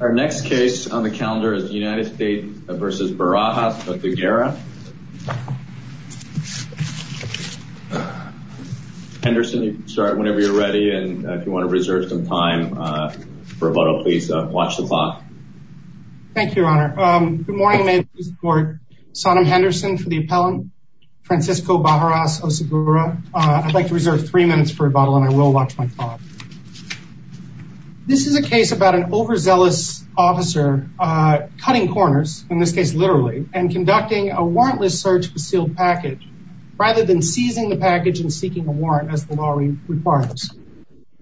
Our next case on the calendar is the United States v. Barajas-Oceguera. Henderson, you can start whenever you're ready. And if you want to reserve some time for rebuttal, please watch the clock. Thank you, Your Honor. Good morning. May it please the Court. Sodom Henderson for the appellant, Francisco Barajas-Oceguera. I'd like to reserve three minutes for rebuttal and I will watch my clock. This is a case about an overzealous officer cutting corners, in this case literally, and conducting a warrantless search for sealed package, rather than seizing the package and seeking a warrant as the law requires.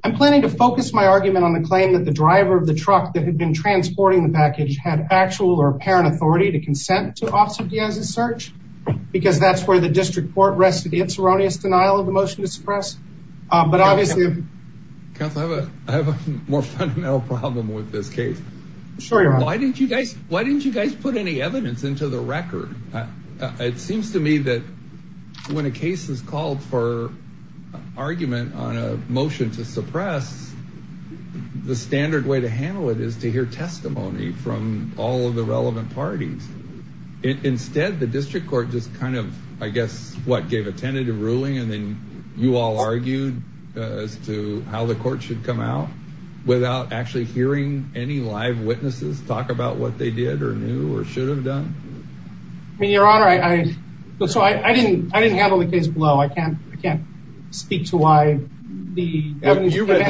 I'm planning to focus my argument on the claim that the driver of the truck that had been transporting the package had actual or apparent authority to consent to Officer Diaz's search, because that's where the district court rests with its erroneous denial of the motion to suppress. But obviously... Counsel, I have a more fundamental problem with this case. Sure, Your Honor. Why didn't you guys put any evidence into the record? It seems to me that when a case is called for argument on a motion to suppress, the standard way to handle it is to hear testimony from all of the relevant parties. Instead, the district court just kind of, I guess, what, gave a tentative ruling and then you all argued as to how the court should come out, without actually hearing any live witnesses talk about what they did or knew or should have done? I mean, Your Honor, I didn't handle the case below. I can't speak to why the evidence... You read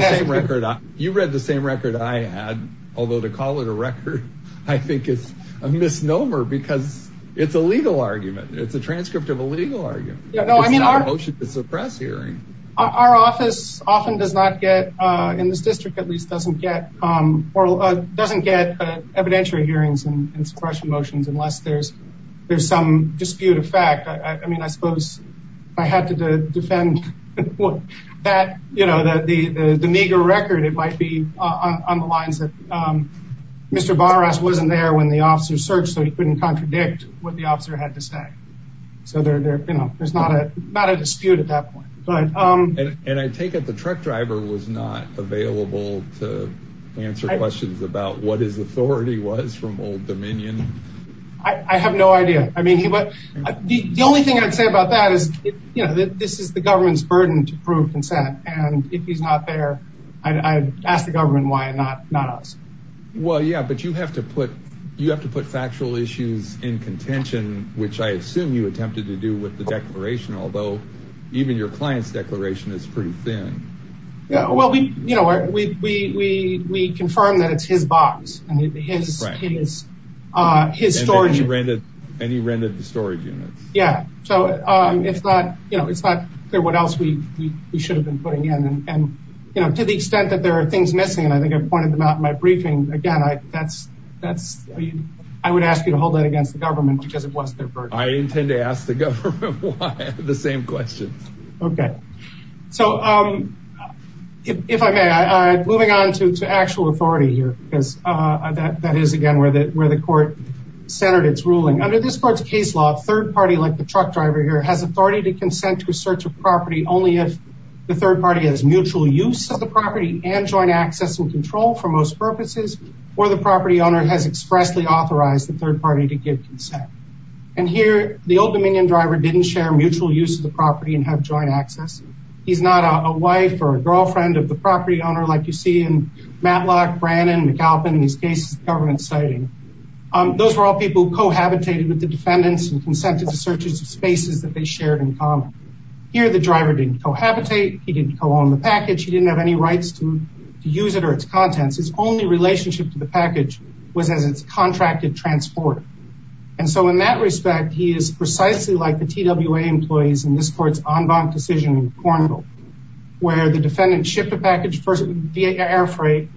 the same record I had, although to call it a record, I think is a misnomer, because it's a legal argument. It's a transcript of a legal argument. It's not a motion to suppress hearing. Our office often does not get, in this district at least, doesn't get evidentiary hearings and suppression motions unless there's some dispute of fact. I mean, I suppose I had to defend the meager record. It might be on the lines that Mr. Bonneras wasn't there when the officer searched, so he couldn't contradict what the officer had to say. So there's not a dispute at that point. And I take it the truck driver was not available to answer questions about what his authority was from Old Dominion? I have no idea. I mean, the only thing I'd say about that is this is the government's burden to prove consent, and if he's not there, I'd ask the government why and not us. Well, yeah, but you have to put factual issues in contention, which I assume you attempted to do with the declaration, although even your client's declaration is pretty thin. Well, we confirmed that it's his box and his storage units. And he rented the storage units. Yeah, so it's not clear what else we should have been putting in. And, you know, to the extent that there are things missing, and I think I pointed them out in my briefing, again, I would ask you to hold that against the government because it was their burden. I intend to ask the government why the same questions. Okay. So if I may, moving on to actual authority here, because that is, again, where the court centered its ruling. Under this court's case law, a third party like the truck driver here has authority to consent to a search of property only if the third party has mutual use of the property and joint access and control for most purposes, or the property owner has expressly authorized the third party to give consent. And here the Old Dominion driver didn't share mutual use of the property and have joint access. He's not a wife or a girlfriend of the property owner like you see in Matlock, Brannon, McAlpin in these cases the government's citing. Those were all people who cohabitated with the defendants and consented to searches of spaces that they shared in common. Here the driver didn't cohabitate. He didn't co-own the package. He didn't have any rights to use it or its contents. His only relationship to the package was as its contracted transporter. And so in that respect, he is precisely like the TWA employees in this court's en banc decision in Cornwall where the defendant shipped a package first via air freight.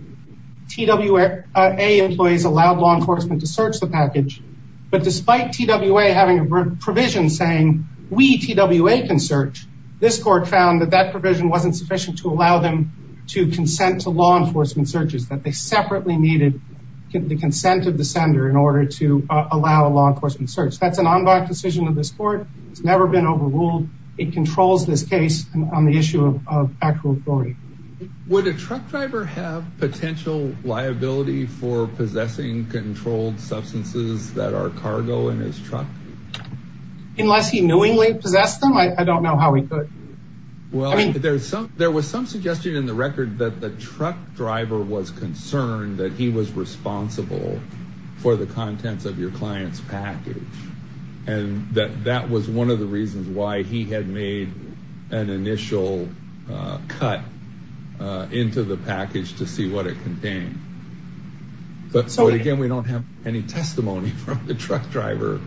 TWA employees allowed law enforcement to search the package. But despite TWA having a provision saying we, TWA, can search, this court found that that provision wasn't sufficient to allow them to consent to law enforcement searches, that they separately needed the consent of the sender in order to allow a law enforcement search. That's an en banc decision of this court. It's never been overruled. It controls this case on the issue of actual authority. Would a truck driver have potential liability for possessing controlled substances that are cargo in his truck? Unless he knowingly possessed them. I don't know how he could. Well, there was some suggestion in the record that the truck driver was concerned that he was responsible for the contents of your client's package. And that that was one of the reasons why he had made an initial cut into the package to see what it contained. But, again, we don't have any testimony from the truck driver.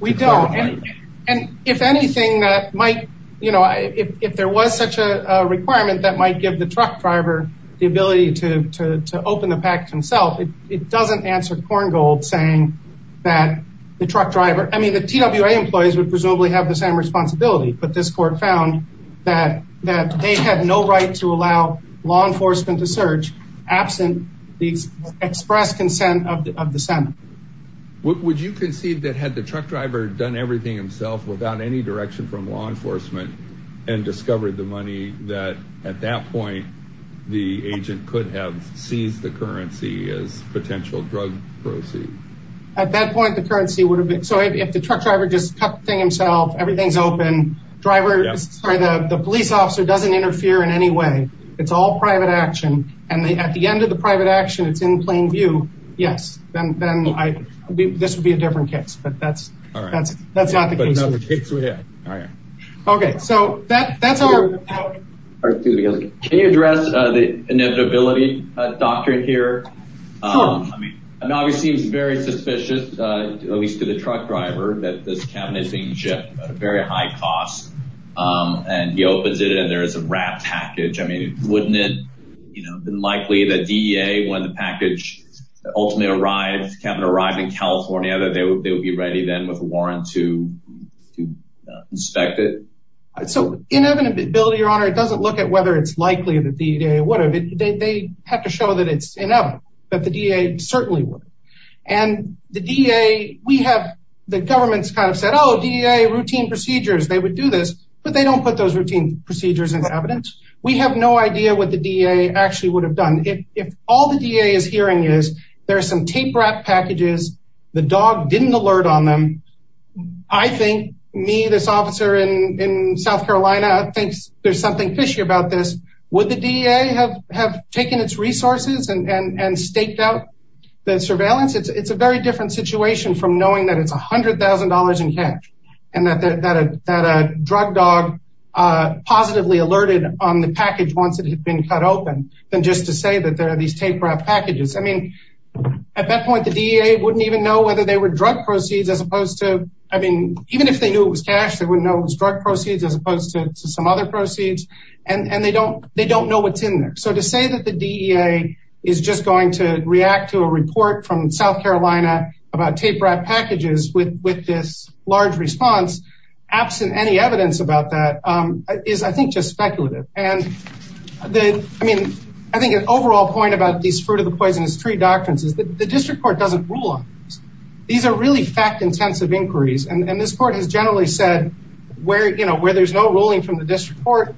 We don't. And if anything, that might, you know, if there was such a requirement that might give the truck driver the ability to open the package himself, it doesn't answer Korngold saying that the truck driver, I mean, the TWA employees would presumably have the same responsibility. But this court found that they had no right to allow law enforcement to search absent the express consent of the Senate. Would you concede that had the truck driver done everything himself without any direction from law enforcement and discovered the money, that at that point the agent could have seized the currency as potential drug proceeds? At that point, the currency would have been. So if the truck driver just cut the thing himself, everything's open driver, the police officer doesn't interfere in any way. It's all private action. And at the end of the private action, it's in plain view. Yes. Then this would be a different case. But that's that's that's not the case. All right. Okay. So that that's all right. Can you address the inevitability doctrine here? I mean, obviously, it's very suspicious, at least to the truck driver, that this cabinet being shipped at a very high cost. And he opens it and there is a wrapped package. I mean, wouldn't it have been likely that DEA, when the package ultimately arrived in California, that they would be ready then with a warrant to inspect it? So inevitability, Your Honor, it doesn't look at whether it's likely that the DEA would have. They have to show that it's inevitable, that the DEA certainly would. And the DEA, we have the government's kind of said, oh, DEA routine procedures. They would do this, but they don't put those routine procedures into evidence. We have no idea what the DEA actually would have done. If all the DEA is hearing is there are some tape wrapped packages. The dog didn't alert on them. I think me, this officer in South Carolina, thinks there's something fishy about this. Would the DEA have taken its resources and staked out the surveillance? It's a very different situation from knowing that it's $100,000 in cash and that a drug dog positively alerted on the package once it had been cut open than just to say that there are these tape wrapped packages. I mean, at that point, the DEA wouldn't even know whether they were drug proceeds, as opposed to, I mean, even if they knew it was cash, they wouldn't know it was drug proceeds as opposed to some other proceeds. And they don't know what's in there. So to say that the DEA is just going to react to a report from South Carolina about tape wrapped packages with this large response, absent any evidence about that, is I think just speculative. And I mean, I think an overall point about these fruit of the poisonous tree doctrines is that the district court doesn't rule on these. These are really fact intensive inquiries. And this court has generally said where there's no ruling from the district court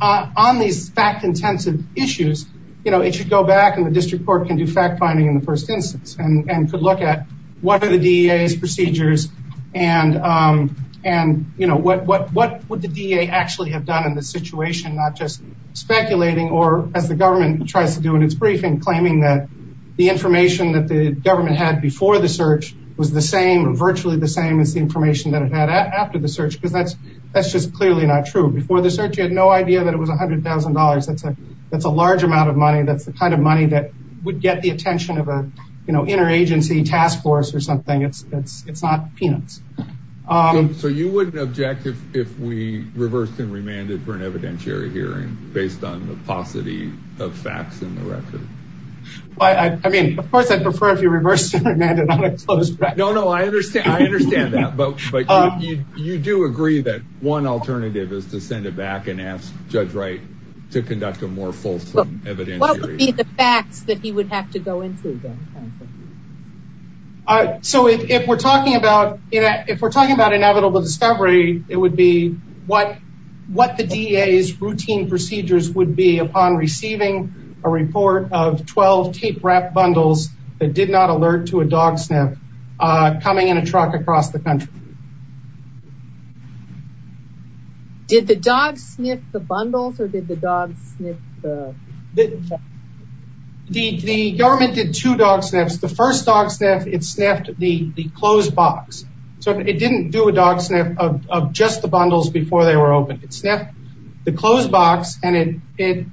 on these fact intensive issues, you know, it should go back and the district court can do fact finding in the first instance and could look at what are the DEA's procedures and, you know, what would the DEA actually have done in this situation, not just speculating or, as the government tries to do in its briefing, claiming that the information that the government had before the search was the same or virtually the same as the information that it had after the search because that's just clearly not true. Before the search you had no idea that it was $100,000. That's a large amount of money. That's the kind of money that would get the attention of an interagency task force or something. It's not peanuts. So you wouldn't object if we reversed and remanded for an evidentiary hearing based on the paucity of facts in the record? I mean, of course I'd prefer if you reversed and remanded on a closed record. No, no, I understand that. But you do agree that one alternative is to send it back and ask Judge Wright to conduct a more fulsome evidentiary hearing. What would be the facts that he would have to go into? So if we're talking about inevitable discovery, it would be what the DEA's routine procedures would be upon receiving a report of 12 tape-wrapped bundles that did not alert to a dog sniff coming in a truck across the country. Did the dog sniff the bundles, or did the dog sniff the box? The government did two dog sniffs. The first dog sniff, it sniffed the closed box. So it didn't do a dog sniff of just the bundles before they were opened. It sniffed the closed box, and it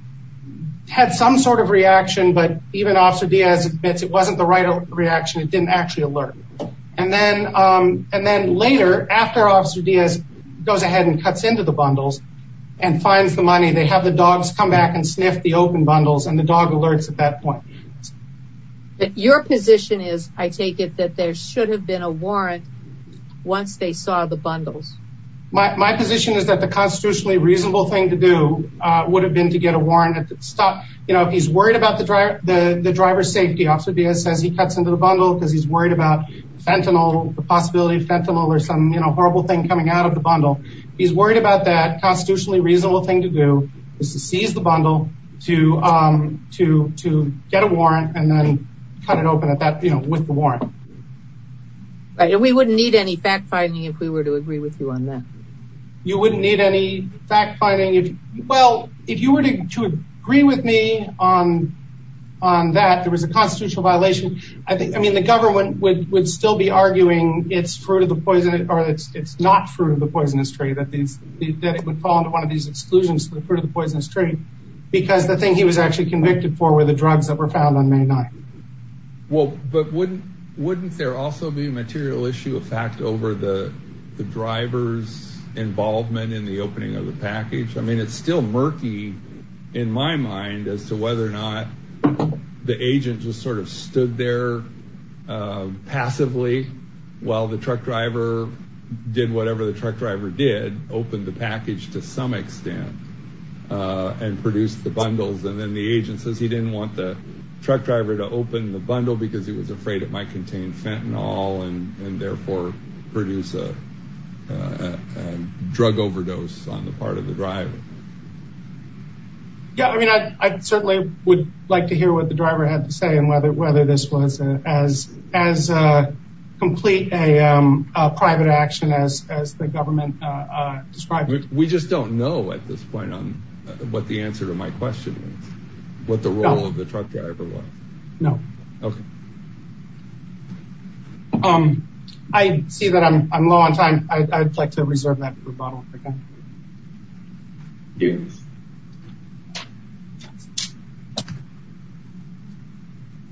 had some sort of reaction, but even Officer Diaz admits it wasn't the right reaction. It didn't actually alert. And then later, after Officer Diaz goes ahead and cuts into the bundles and finds the money, they have the dogs come back and sniff the open bundles, and the dog alerts at that point. Your position is, I take it, that there should have been a warrant once they saw the bundles. My position is that the constitutionally reasonable thing to do would have been to get a warrant. If he's worried about the driver's safety, Officer Diaz says he cuts into the bundle because he's worried about fentanyl, the possibility of fentanyl or some horrible thing coming out of the bundle. If he's worried about that, constitutionally reasonable thing to do is to seize the bundle, to get a warrant, and then cut it open with the warrant. We wouldn't need any fact-finding if we were to agree with you on that. You wouldn't need any fact-finding? Well, if you were to agree with me on that, there was a constitutional violation. The government would still be arguing it's not fruit of the poisonous tree, that it would fall into one of these exclusions to the fruit of the poisonous tree because the thing he was actually convicted for were the drugs that were found on May 9th. But wouldn't there also be a material issue of fact over the driver's involvement in the opening of the package? I mean, it's still murky, in my mind, as to whether or not the agent just sort of stood there passively while the truck driver did whatever the truck driver did, opened the package to some extent, and produced the bundles. And then the agent says he didn't want the truck driver to open the bundle because he was afraid it might contain fentanyl and therefore produce a drug overdose on the part of the driver. Yeah, I mean, I certainly would like to hear what the driver had to say and whether this was as complete a private action as the government described it. We just don't know at this point what the answer to my question is, what the role of the truck driver was. No. Okay. I see that I'm low on time. I'd like to reserve that rebuttal. Okay.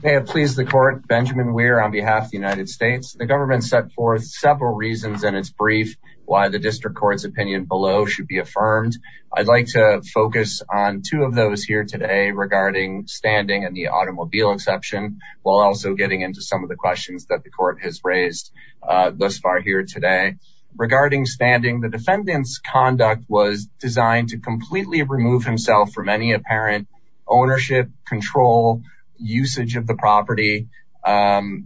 May it please the court, Benjamin Weir on behalf of the United States. The government set forth several reasons in its brief why the district court's opinion below should be affirmed. I'd like to focus on two of those here today regarding standing and the automobile exception. While also getting into some of the questions that the court has raised thus far here today. Regarding standing, the defendant's conduct was designed to completely remove himself from any apparent ownership, control, usage of the property, and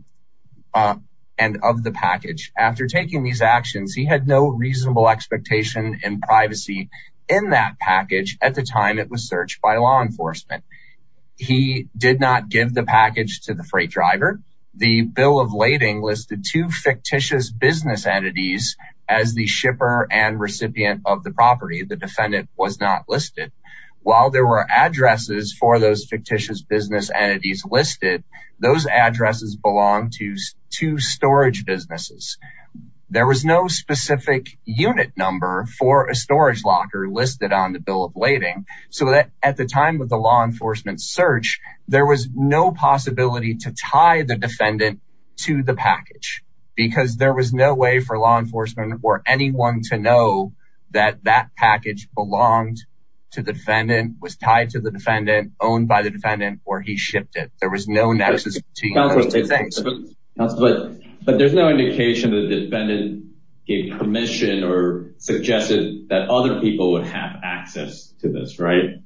of the package. After taking these actions, he had no reasonable expectation and privacy in that package at the time it was searched by law enforcement. He did not give the package to the freight driver. The bill of lading listed two fictitious business entities as the shipper and recipient of the property. The defendant was not listed. While there were addresses for those fictitious business entities listed, those addresses belong to two storage businesses. There was no specific unit number for a storage locker listed on the bill of lading. At the time of the law enforcement search, there was no possibility to tie the defendant to the package because there was no way for law enforcement or anyone to know that that package belonged to the defendant, was tied to the defendant, owned by the defendant, or he shipped it. There was no nexus between those two things. But there's no indication that the defendant gave permission or suggested that other people would have access to this, right?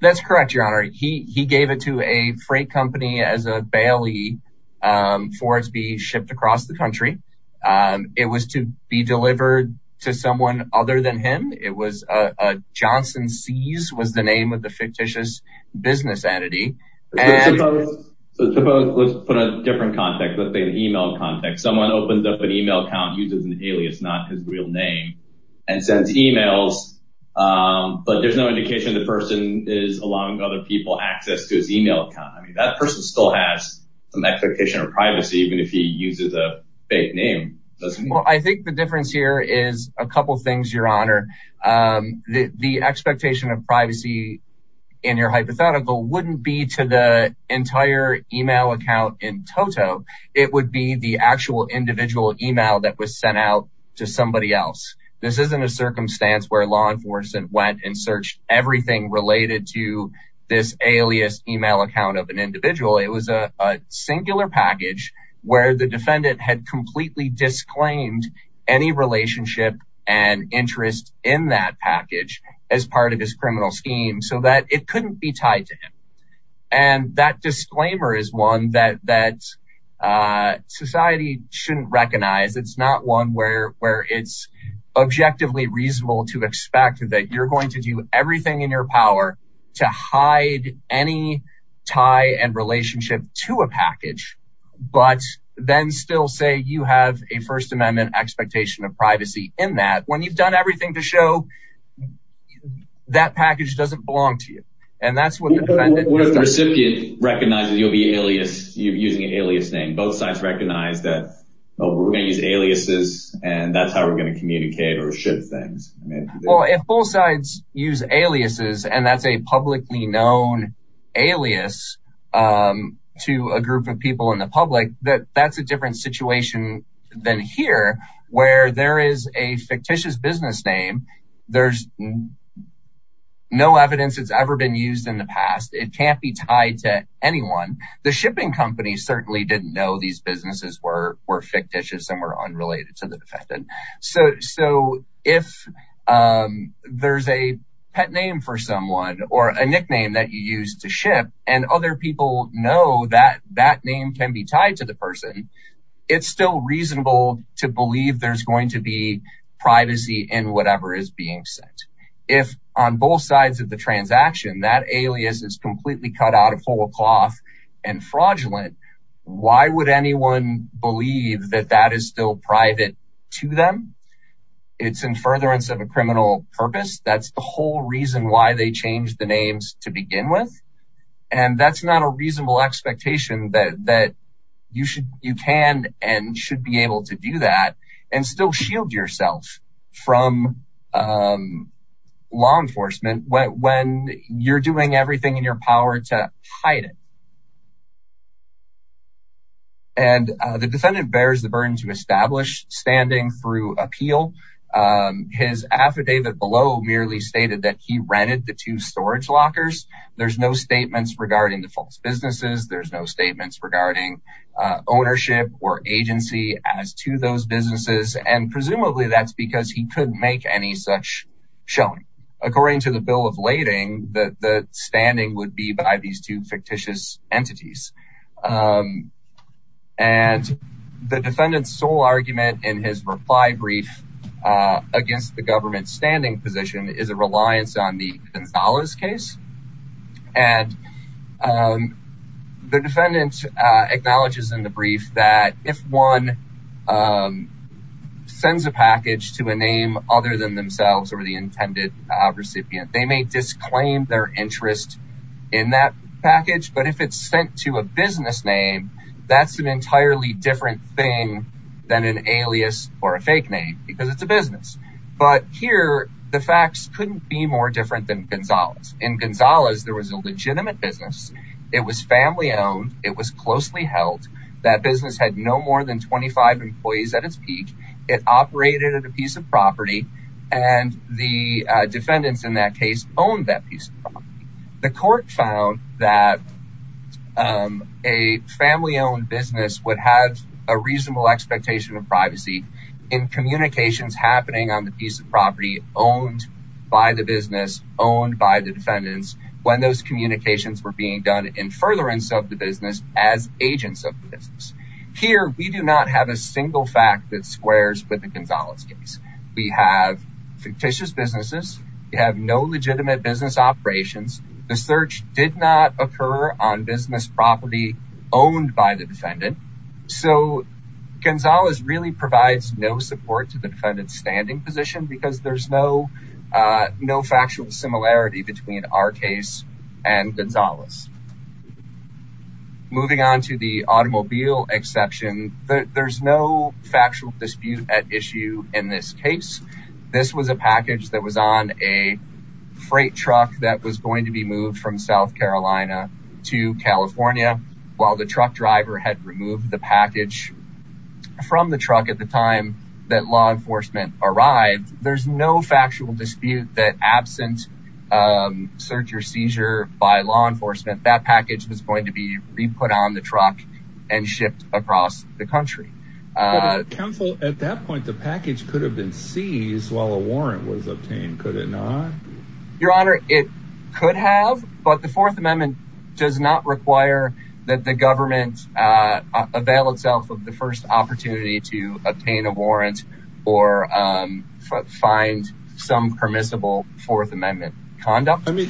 That's correct, Your Honor. He gave it to a freight company as a bailee for it to be shipped across the country. It was to be delivered to someone other than him. Johnson C's was the name of the fictitious business entity. So suppose, let's put a different context, let's say an email context. Someone opens up an email account, uses an alias, not his real name, and sends emails, but there's no indication the person is allowing other people access to his email account. I mean, that person still has some expectation of privacy even if he uses a fake name. Well, I think the difference here is a couple things, Your Honor. The expectation of privacy in your hypothetical wouldn't be to the entire email account in toto. It would be the actual individual email that was sent out to somebody else. This isn't a circumstance where law enforcement went and searched everything related to this alias email account of an individual. It was a singular package where the defendant had completely disclaimed any relationship and interest in that package as part of his criminal scheme so that it couldn't be tied to him. And that disclaimer is one that society shouldn't recognize. It's not one where it's objectively reasonable to expect that you're going to do everything in your power to hide any tie and relationship to a package, but then still say you have a First Amendment expectation of privacy in that. When you've done everything to show, that package doesn't belong to you. What if the recipient recognizes you're using an alias name? Both sides recognize that we're going to use aliases and that's how we're going to communicate or ship things. Well, if both sides use aliases and that's a publicly known alias to a group of people in the public, that's a different situation than here where there is a fictitious business name. There's no evidence it's ever been used in the past. It can't be tied to anyone. The shipping company certainly didn't know these businesses were fictitious and were unrelated to the defendant. So if there's a pet name for someone or a nickname that you use to ship and other people know that that name can be tied to the person, it's still reasonable to believe there's going to be privacy in whatever is being sent. If on both sides of the transaction, that alias is completely cut out of whole cloth and fraudulent, why would anyone believe that that is still private to them? It's in furtherance of a criminal purpose. That's the whole reason why they changed the names to begin with. And that's not a reasonable expectation that you can and should be able to do that and still shield yourself from law enforcement when you're doing everything in your power to hide it. And the defendant bears the burden to establish standing through appeal. His affidavit below merely stated that he rented the two storage lockers. There's no statements regarding the false businesses. There's no statements regarding ownership or agency as to those businesses. And presumably, that's because he couldn't make any such showing. According to the bill of lading, the standing would be by these two fictitious entities. And the defendant's sole argument in his reply brief against the government's standing position is a reliance on the Gonzalez case. And the defendant acknowledges in the brief that if one sends a package to a name other than themselves or the intended recipient, they may disclaim their interest in that package. But if it's sent to a business name, that's an entirely different thing than an alias or a fake name because it's a business. But here, the facts couldn't be more different than Gonzalez. In Gonzalez, there was a legitimate business. It was family-owned. It was closely held. That business had no more than 25 employees at its peak. It operated at a piece of property. And the defendants in that case owned that piece of property. The court found that a family-owned business would have a reasonable expectation of privacy in communications happening on the piece of property owned by the business, owned by the defendants, when those communications were being done in furtherance of the business as agents of the business. Here, we do not have a single fact that squares with the Gonzalez case. We have fictitious businesses. We have no legitimate business operations. The search did not occur on business property owned by the defendant. So, Gonzalez really provides no support to the defendant's standing position because there's no factual similarity between our case and Gonzalez. Moving on to the automobile exception, there's no factual dispute at issue in this case. This was a package that was on a freight truck that was going to be moved from South Carolina to California while the truck driver had removed the package from the truck at the time that law enforcement arrived. There's no factual dispute that, absent search or seizure by law enforcement, that package was going to be re-put on the truck and shipped across the country. Counsel, at that point, the package could have been seized while a warrant was obtained, could it not? Your Honor, it could have, but the Fourth Amendment does not require that the government avail itself of the first opportunity to obtain a warrant or find some permissible Fourth Amendment conduct. I mean,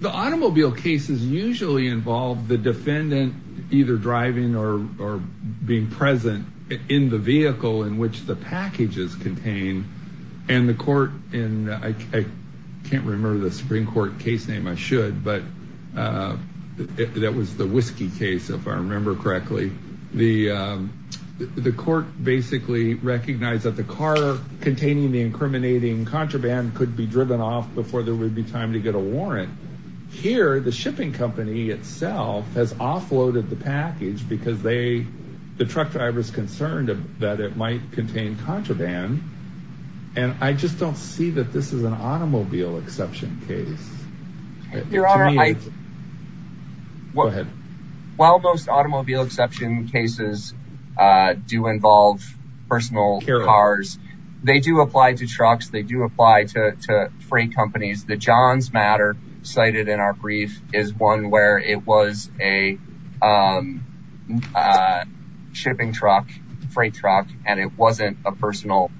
the automobile cases usually involve the defendant either driving or being present in the vehicle in which the package is contained and the court in, I can't remember the Supreme Court case name, I should, but that was the Whiskey case, if I remember correctly. The court basically recognized that the car containing the incriminating contraband could be driven off before there would be time to get a warrant. Here, the shipping company itself has offloaded the package because the truck driver's concerned that it might contain contraband, and I just don't see that this is an automobile exception case. Your Honor, while most automobile exception cases do involve personal cars, they do apply to trucks, they do apply to freight companies. The Johns Matter cited in our brief is one where it was a shipping truck, freight truck, and it wasn't a personal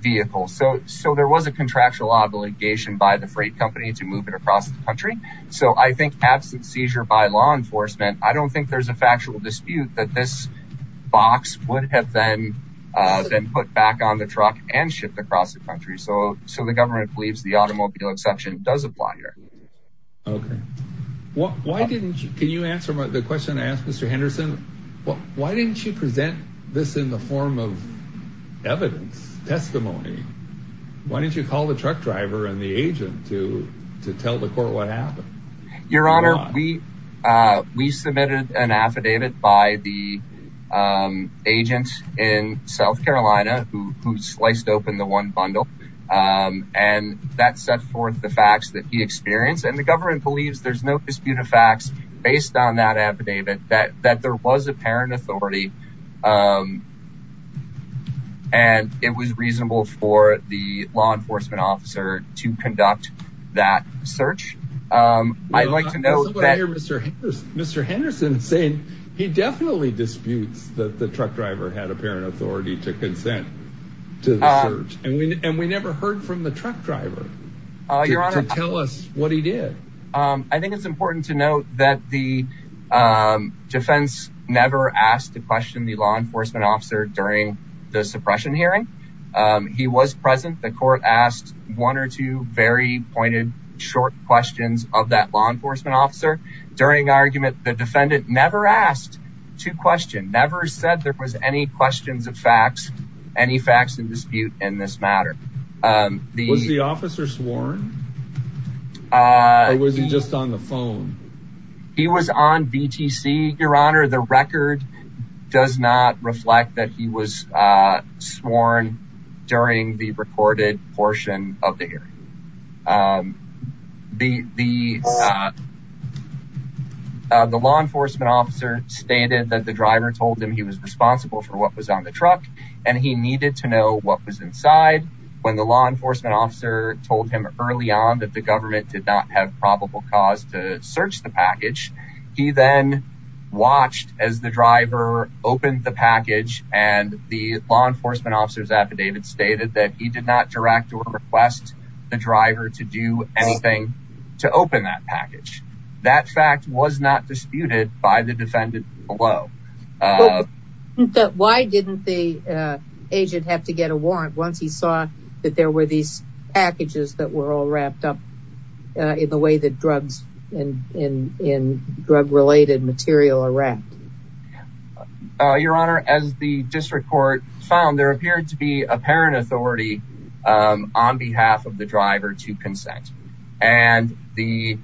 vehicle. So there was a contractual obligation by the freight company to move it across the country. So I think absent seizure by law enforcement, I don't think there's a factual dispute that this box would have been put back on the truck and shipped across the country. So the government believes the automobile exception does apply here. Okay. Can you answer the question I asked Mr. Henderson? Why didn't you present this in the form of evidence, testimony? Why didn't you call the truck driver and the agent to tell the court what happened? Your Honor, we submitted an affidavit by the agent in South Carolina who sliced open the one bundle, and that set forth the facts that he experienced, and the government believes there's no dispute of facts based on that affidavit that there was apparent authority and it was reasonable for the law enforcement officer to conduct that search. I'd like to note that... I also want to hear Mr. Henderson saying he definitely disputes that the truck driver had apparent authority to consent to the search, and we never heard from the truck driver to tell us what he did. I think it's important to note that the defense never asked to question the law enforcement officer during the suppression hearing. He was present. The court asked one or two very pointed, short questions of that law enforcement officer. During argument, the defendant never asked to question, never said there was any questions of facts, any facts in dispute in this matter. Was the officer sworn? Or was he just on the phone? He was on VTC, Your Honor. The record does not reflect that he was sworn during the recorded portion of the hearing. The law enforcement officer stated that the driver told him he was responsible for what was on the truck, and he needed to know what was inside. When the law enforcement officer told him early on that the government did not have probable cause to search the package, he then watched as the driver opened the package, and the law enforcement officer's affidavit stated that he did not direct or request the driver to do anything to open that package. That fact was not disputed by the defendant below. Why didn't the agent have to get a warrant once he saw that there were these packages that were all wrapped up in the way that drugs and drug-related material are wrapped? Your Honor, as the district court found, there appeared to be apparent authority on behalf of the driver to consent. And the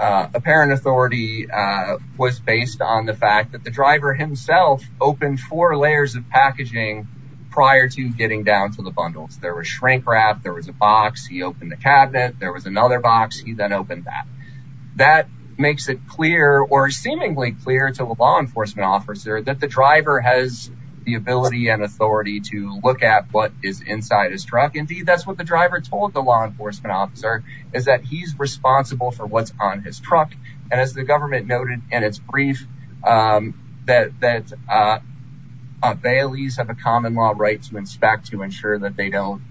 apparent authority was based on the fact that the driver himself opened four layers of packaging prior to getting down to the bundles. There was shrink wrap, there was a box, he opened the cabinet, there was another box, he then opened that. That makes it clear or seemingly clear to the law enforcement officer that the driver has the ability and authority to look at what is inside his truck. Indeed, that's what the driver told the law enforcement officer, is that he's responsible for what's on his truck. And as the government noted in its brief, that bailees have a common law right to inspect to ensure that they don't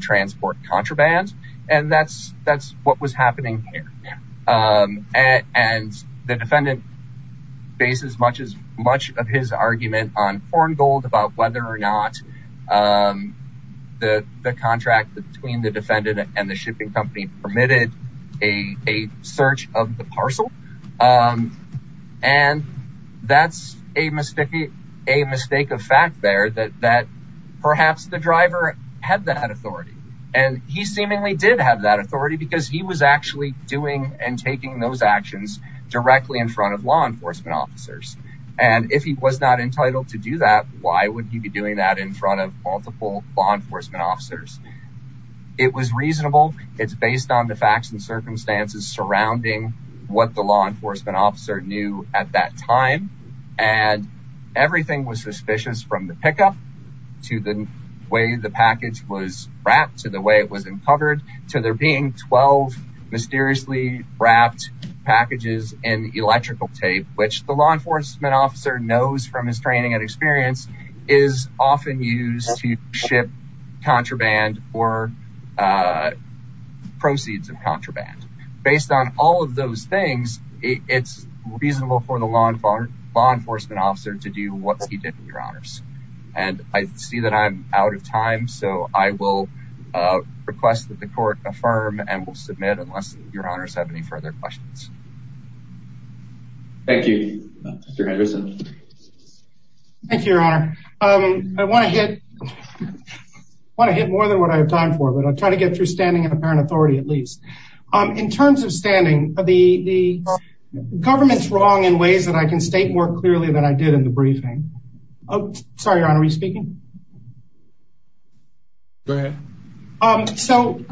transport contraband. And that's what was happening here. And the defendant based as much of his argument on foreign gold about whether or not the contract between the defendant and the shipping company permitted a search of the parcel. And that's a mistake of fact there that perhaps the driver had that authority. And he seemingly did have that authority because he was actually doing and taking those actions directly in front of law enforcement officers. And if he was not entitled to do that, why would he be doing that in front of multiple law enforcement officers? It was reasonable. It's based on the facts and circumstances surrounding what the law enforcement officer knew at that time. And everything was suspicious from the pickup to the way the package was wrapped to the way it was uncovered to there being 12 mysteriously wrapped packages and electrical tape, which the law enforcement officer knows from his training and experience is often used to ship contraband or proceeds of contraband. Based on all of those things, it's reasonable for the law enforcement officer to do what he did in your honors. And I see that I'm out of time, so I will request that the court affirm and will submit unless your honors have any further questions. Thank you, Mr. Henderson. Thank you, your honor. I want to hit more than what I have time for, but I'll try to get through standing in apparent authority at least. In terms of standing, the government's wrong in ways that I can state more clearly than I did in the briefing. Sorry, your honor, are you speaking? Go ahead. So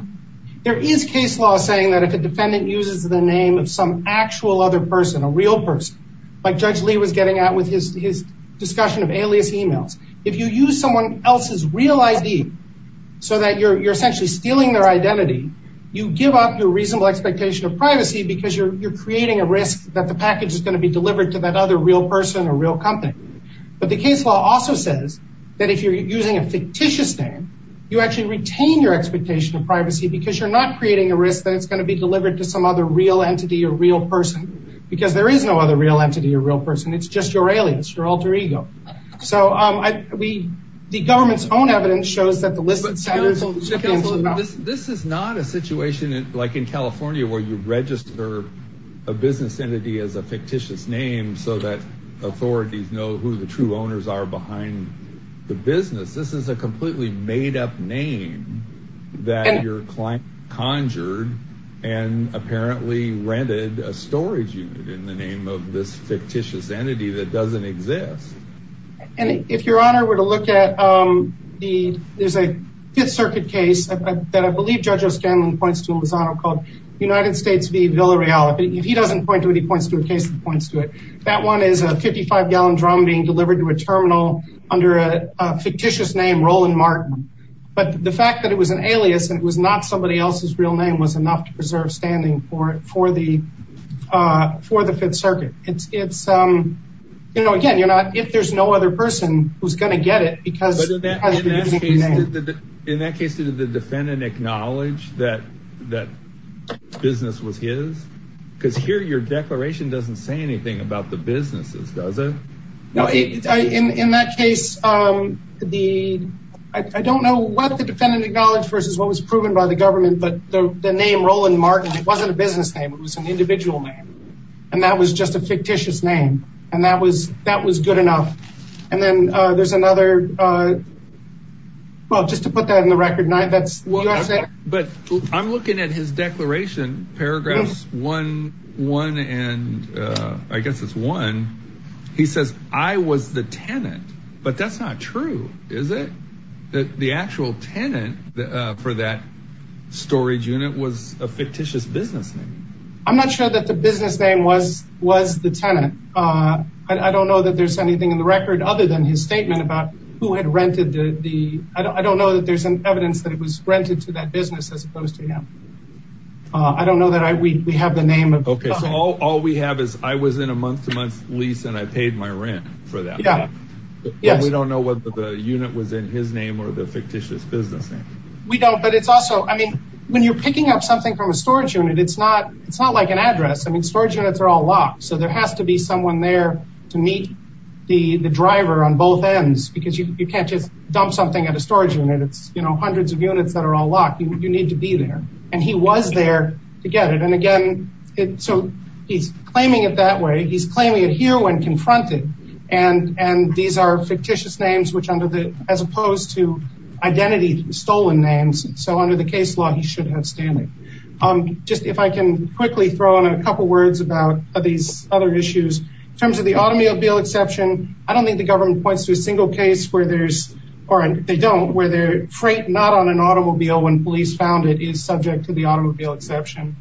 there is case law saying that if a defendant uses the name of some actual other person, a real person, like Judge Lee was getting at with his discussion of alias emails, if you use someone else's real ID so that you're essentially stealing their identity, you give up your reasonable expectation of privacy because you're creating a risk that the package is going to be delivered to that other real person or real company. But the case law also says that if you're using a fictitious name, you actually retain your expectation of privacy because you're not creating a risk that it's going to be delivered to some other real entity or real person because there is no other real entity or real person. It's just your alias, your alter ego. So the government's own evidence shows that the list of sellers... But counsel, this is not a situation like in California where you register a business entity as a fictitious name so that authorities know who the true owners are behind the business. This is a completely made-up name that your client conjured and apparently rented a storage unit in the name of this fictitious entity that doesn't exist. And if Your Honor were to look at the... There's a Fifth Circuit case that I believe Judge O'Scanlan points to in his honor called United States v. Villareal. If he doesn't point to it, he points to a case that points to it. That one is a 55-gallon drum being delivered to a terminal under a fictitious name, Roland Martin. But the fact that it was an alias and it was not somebody else's real name was enough to preserve standing for the Fifth Circuit. It's... Again, if there's no other person who's going to get it because... But in that case, did the defendant acknowledge that the business was his? Because here your declaration doesn't say anything about the businesses, does it? No, in that case, I don't know what the defendant acknowledged versus what was proven by the government, but the name Roland Martin, it wasn't a business name. It was an individual name. And that was just a fictitious name. And that was good enough. And then there's another... Well, just to put that in the record, that's USA... But I'm looking at his declaration, paragraphs one and... I guess it's one. He says, I was the tenant. But that's not true, is it? The actual tenant for that storage unit was a fictitious business name. I'm not sure that the business name was the tenant. I don't know that there's anything in the record other than his statement about who had rented the... I don't know that there's any evidence that it was rented to that business as opposed to him. I don't know that we have the name of... Okay, so all we have is, I was in a month-to-month lease and I paid my rent for that. Yeah. But we don't know whether the unit was in his name or the fictitious business name. We don't, but it's also... When you're picking up something from a storage unit, it's not like an address. Storage units are all locked, so there has to be someone there to meet the driver on both ends because you can't just dump something at a storage unit. It's hundreds of units that are all locked. You need to be there. And he was there to get it. And again, so he's claiming it that way. He's claiming it here when confronted. And these are fictitious names as opposed to identity stolen names. So under the case law, he should have standing. Just if I can quickly throw in a couple words about these other issues. In terms of the automobile exception, I don't think the government points to a single case where there's, or they don't, where the freight not on an automobile when police found it is subject to the automobile exception.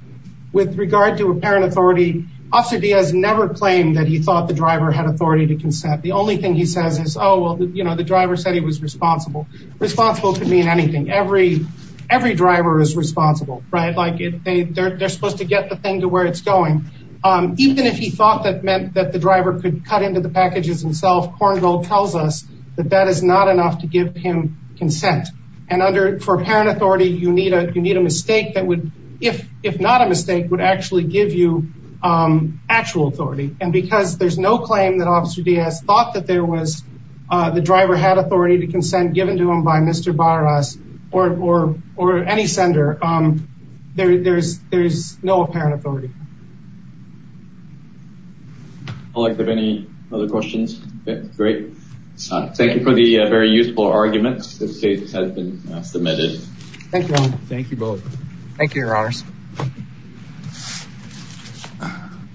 With regard to apparent authority, Officer Diaz never claimed that he thought the driver had authority to consent. The only thing he says is, oh, well, you know, the driver said he was responsible. Responsible could mean anything. Every driver is responsible, right? They're supposed to get the thing to where it's going. Even if he thought that meant that the driver could cut into the packages himself, Korngold tells us that that is not enough to give him consent. And for apparent authority, you need a mistake that would, if not a mistake, would actually give you actual authority. And because there's no claim that Officer Diaz thought that there was, the driver had authority to consent given to him by Mr. Barras, or any sender, there's no apparent authority. I'd like to have any other questions. Great. Thank you for the very useful arguments. This case has been submitted. Thank you. Thank you both. Thank you, Your Honors.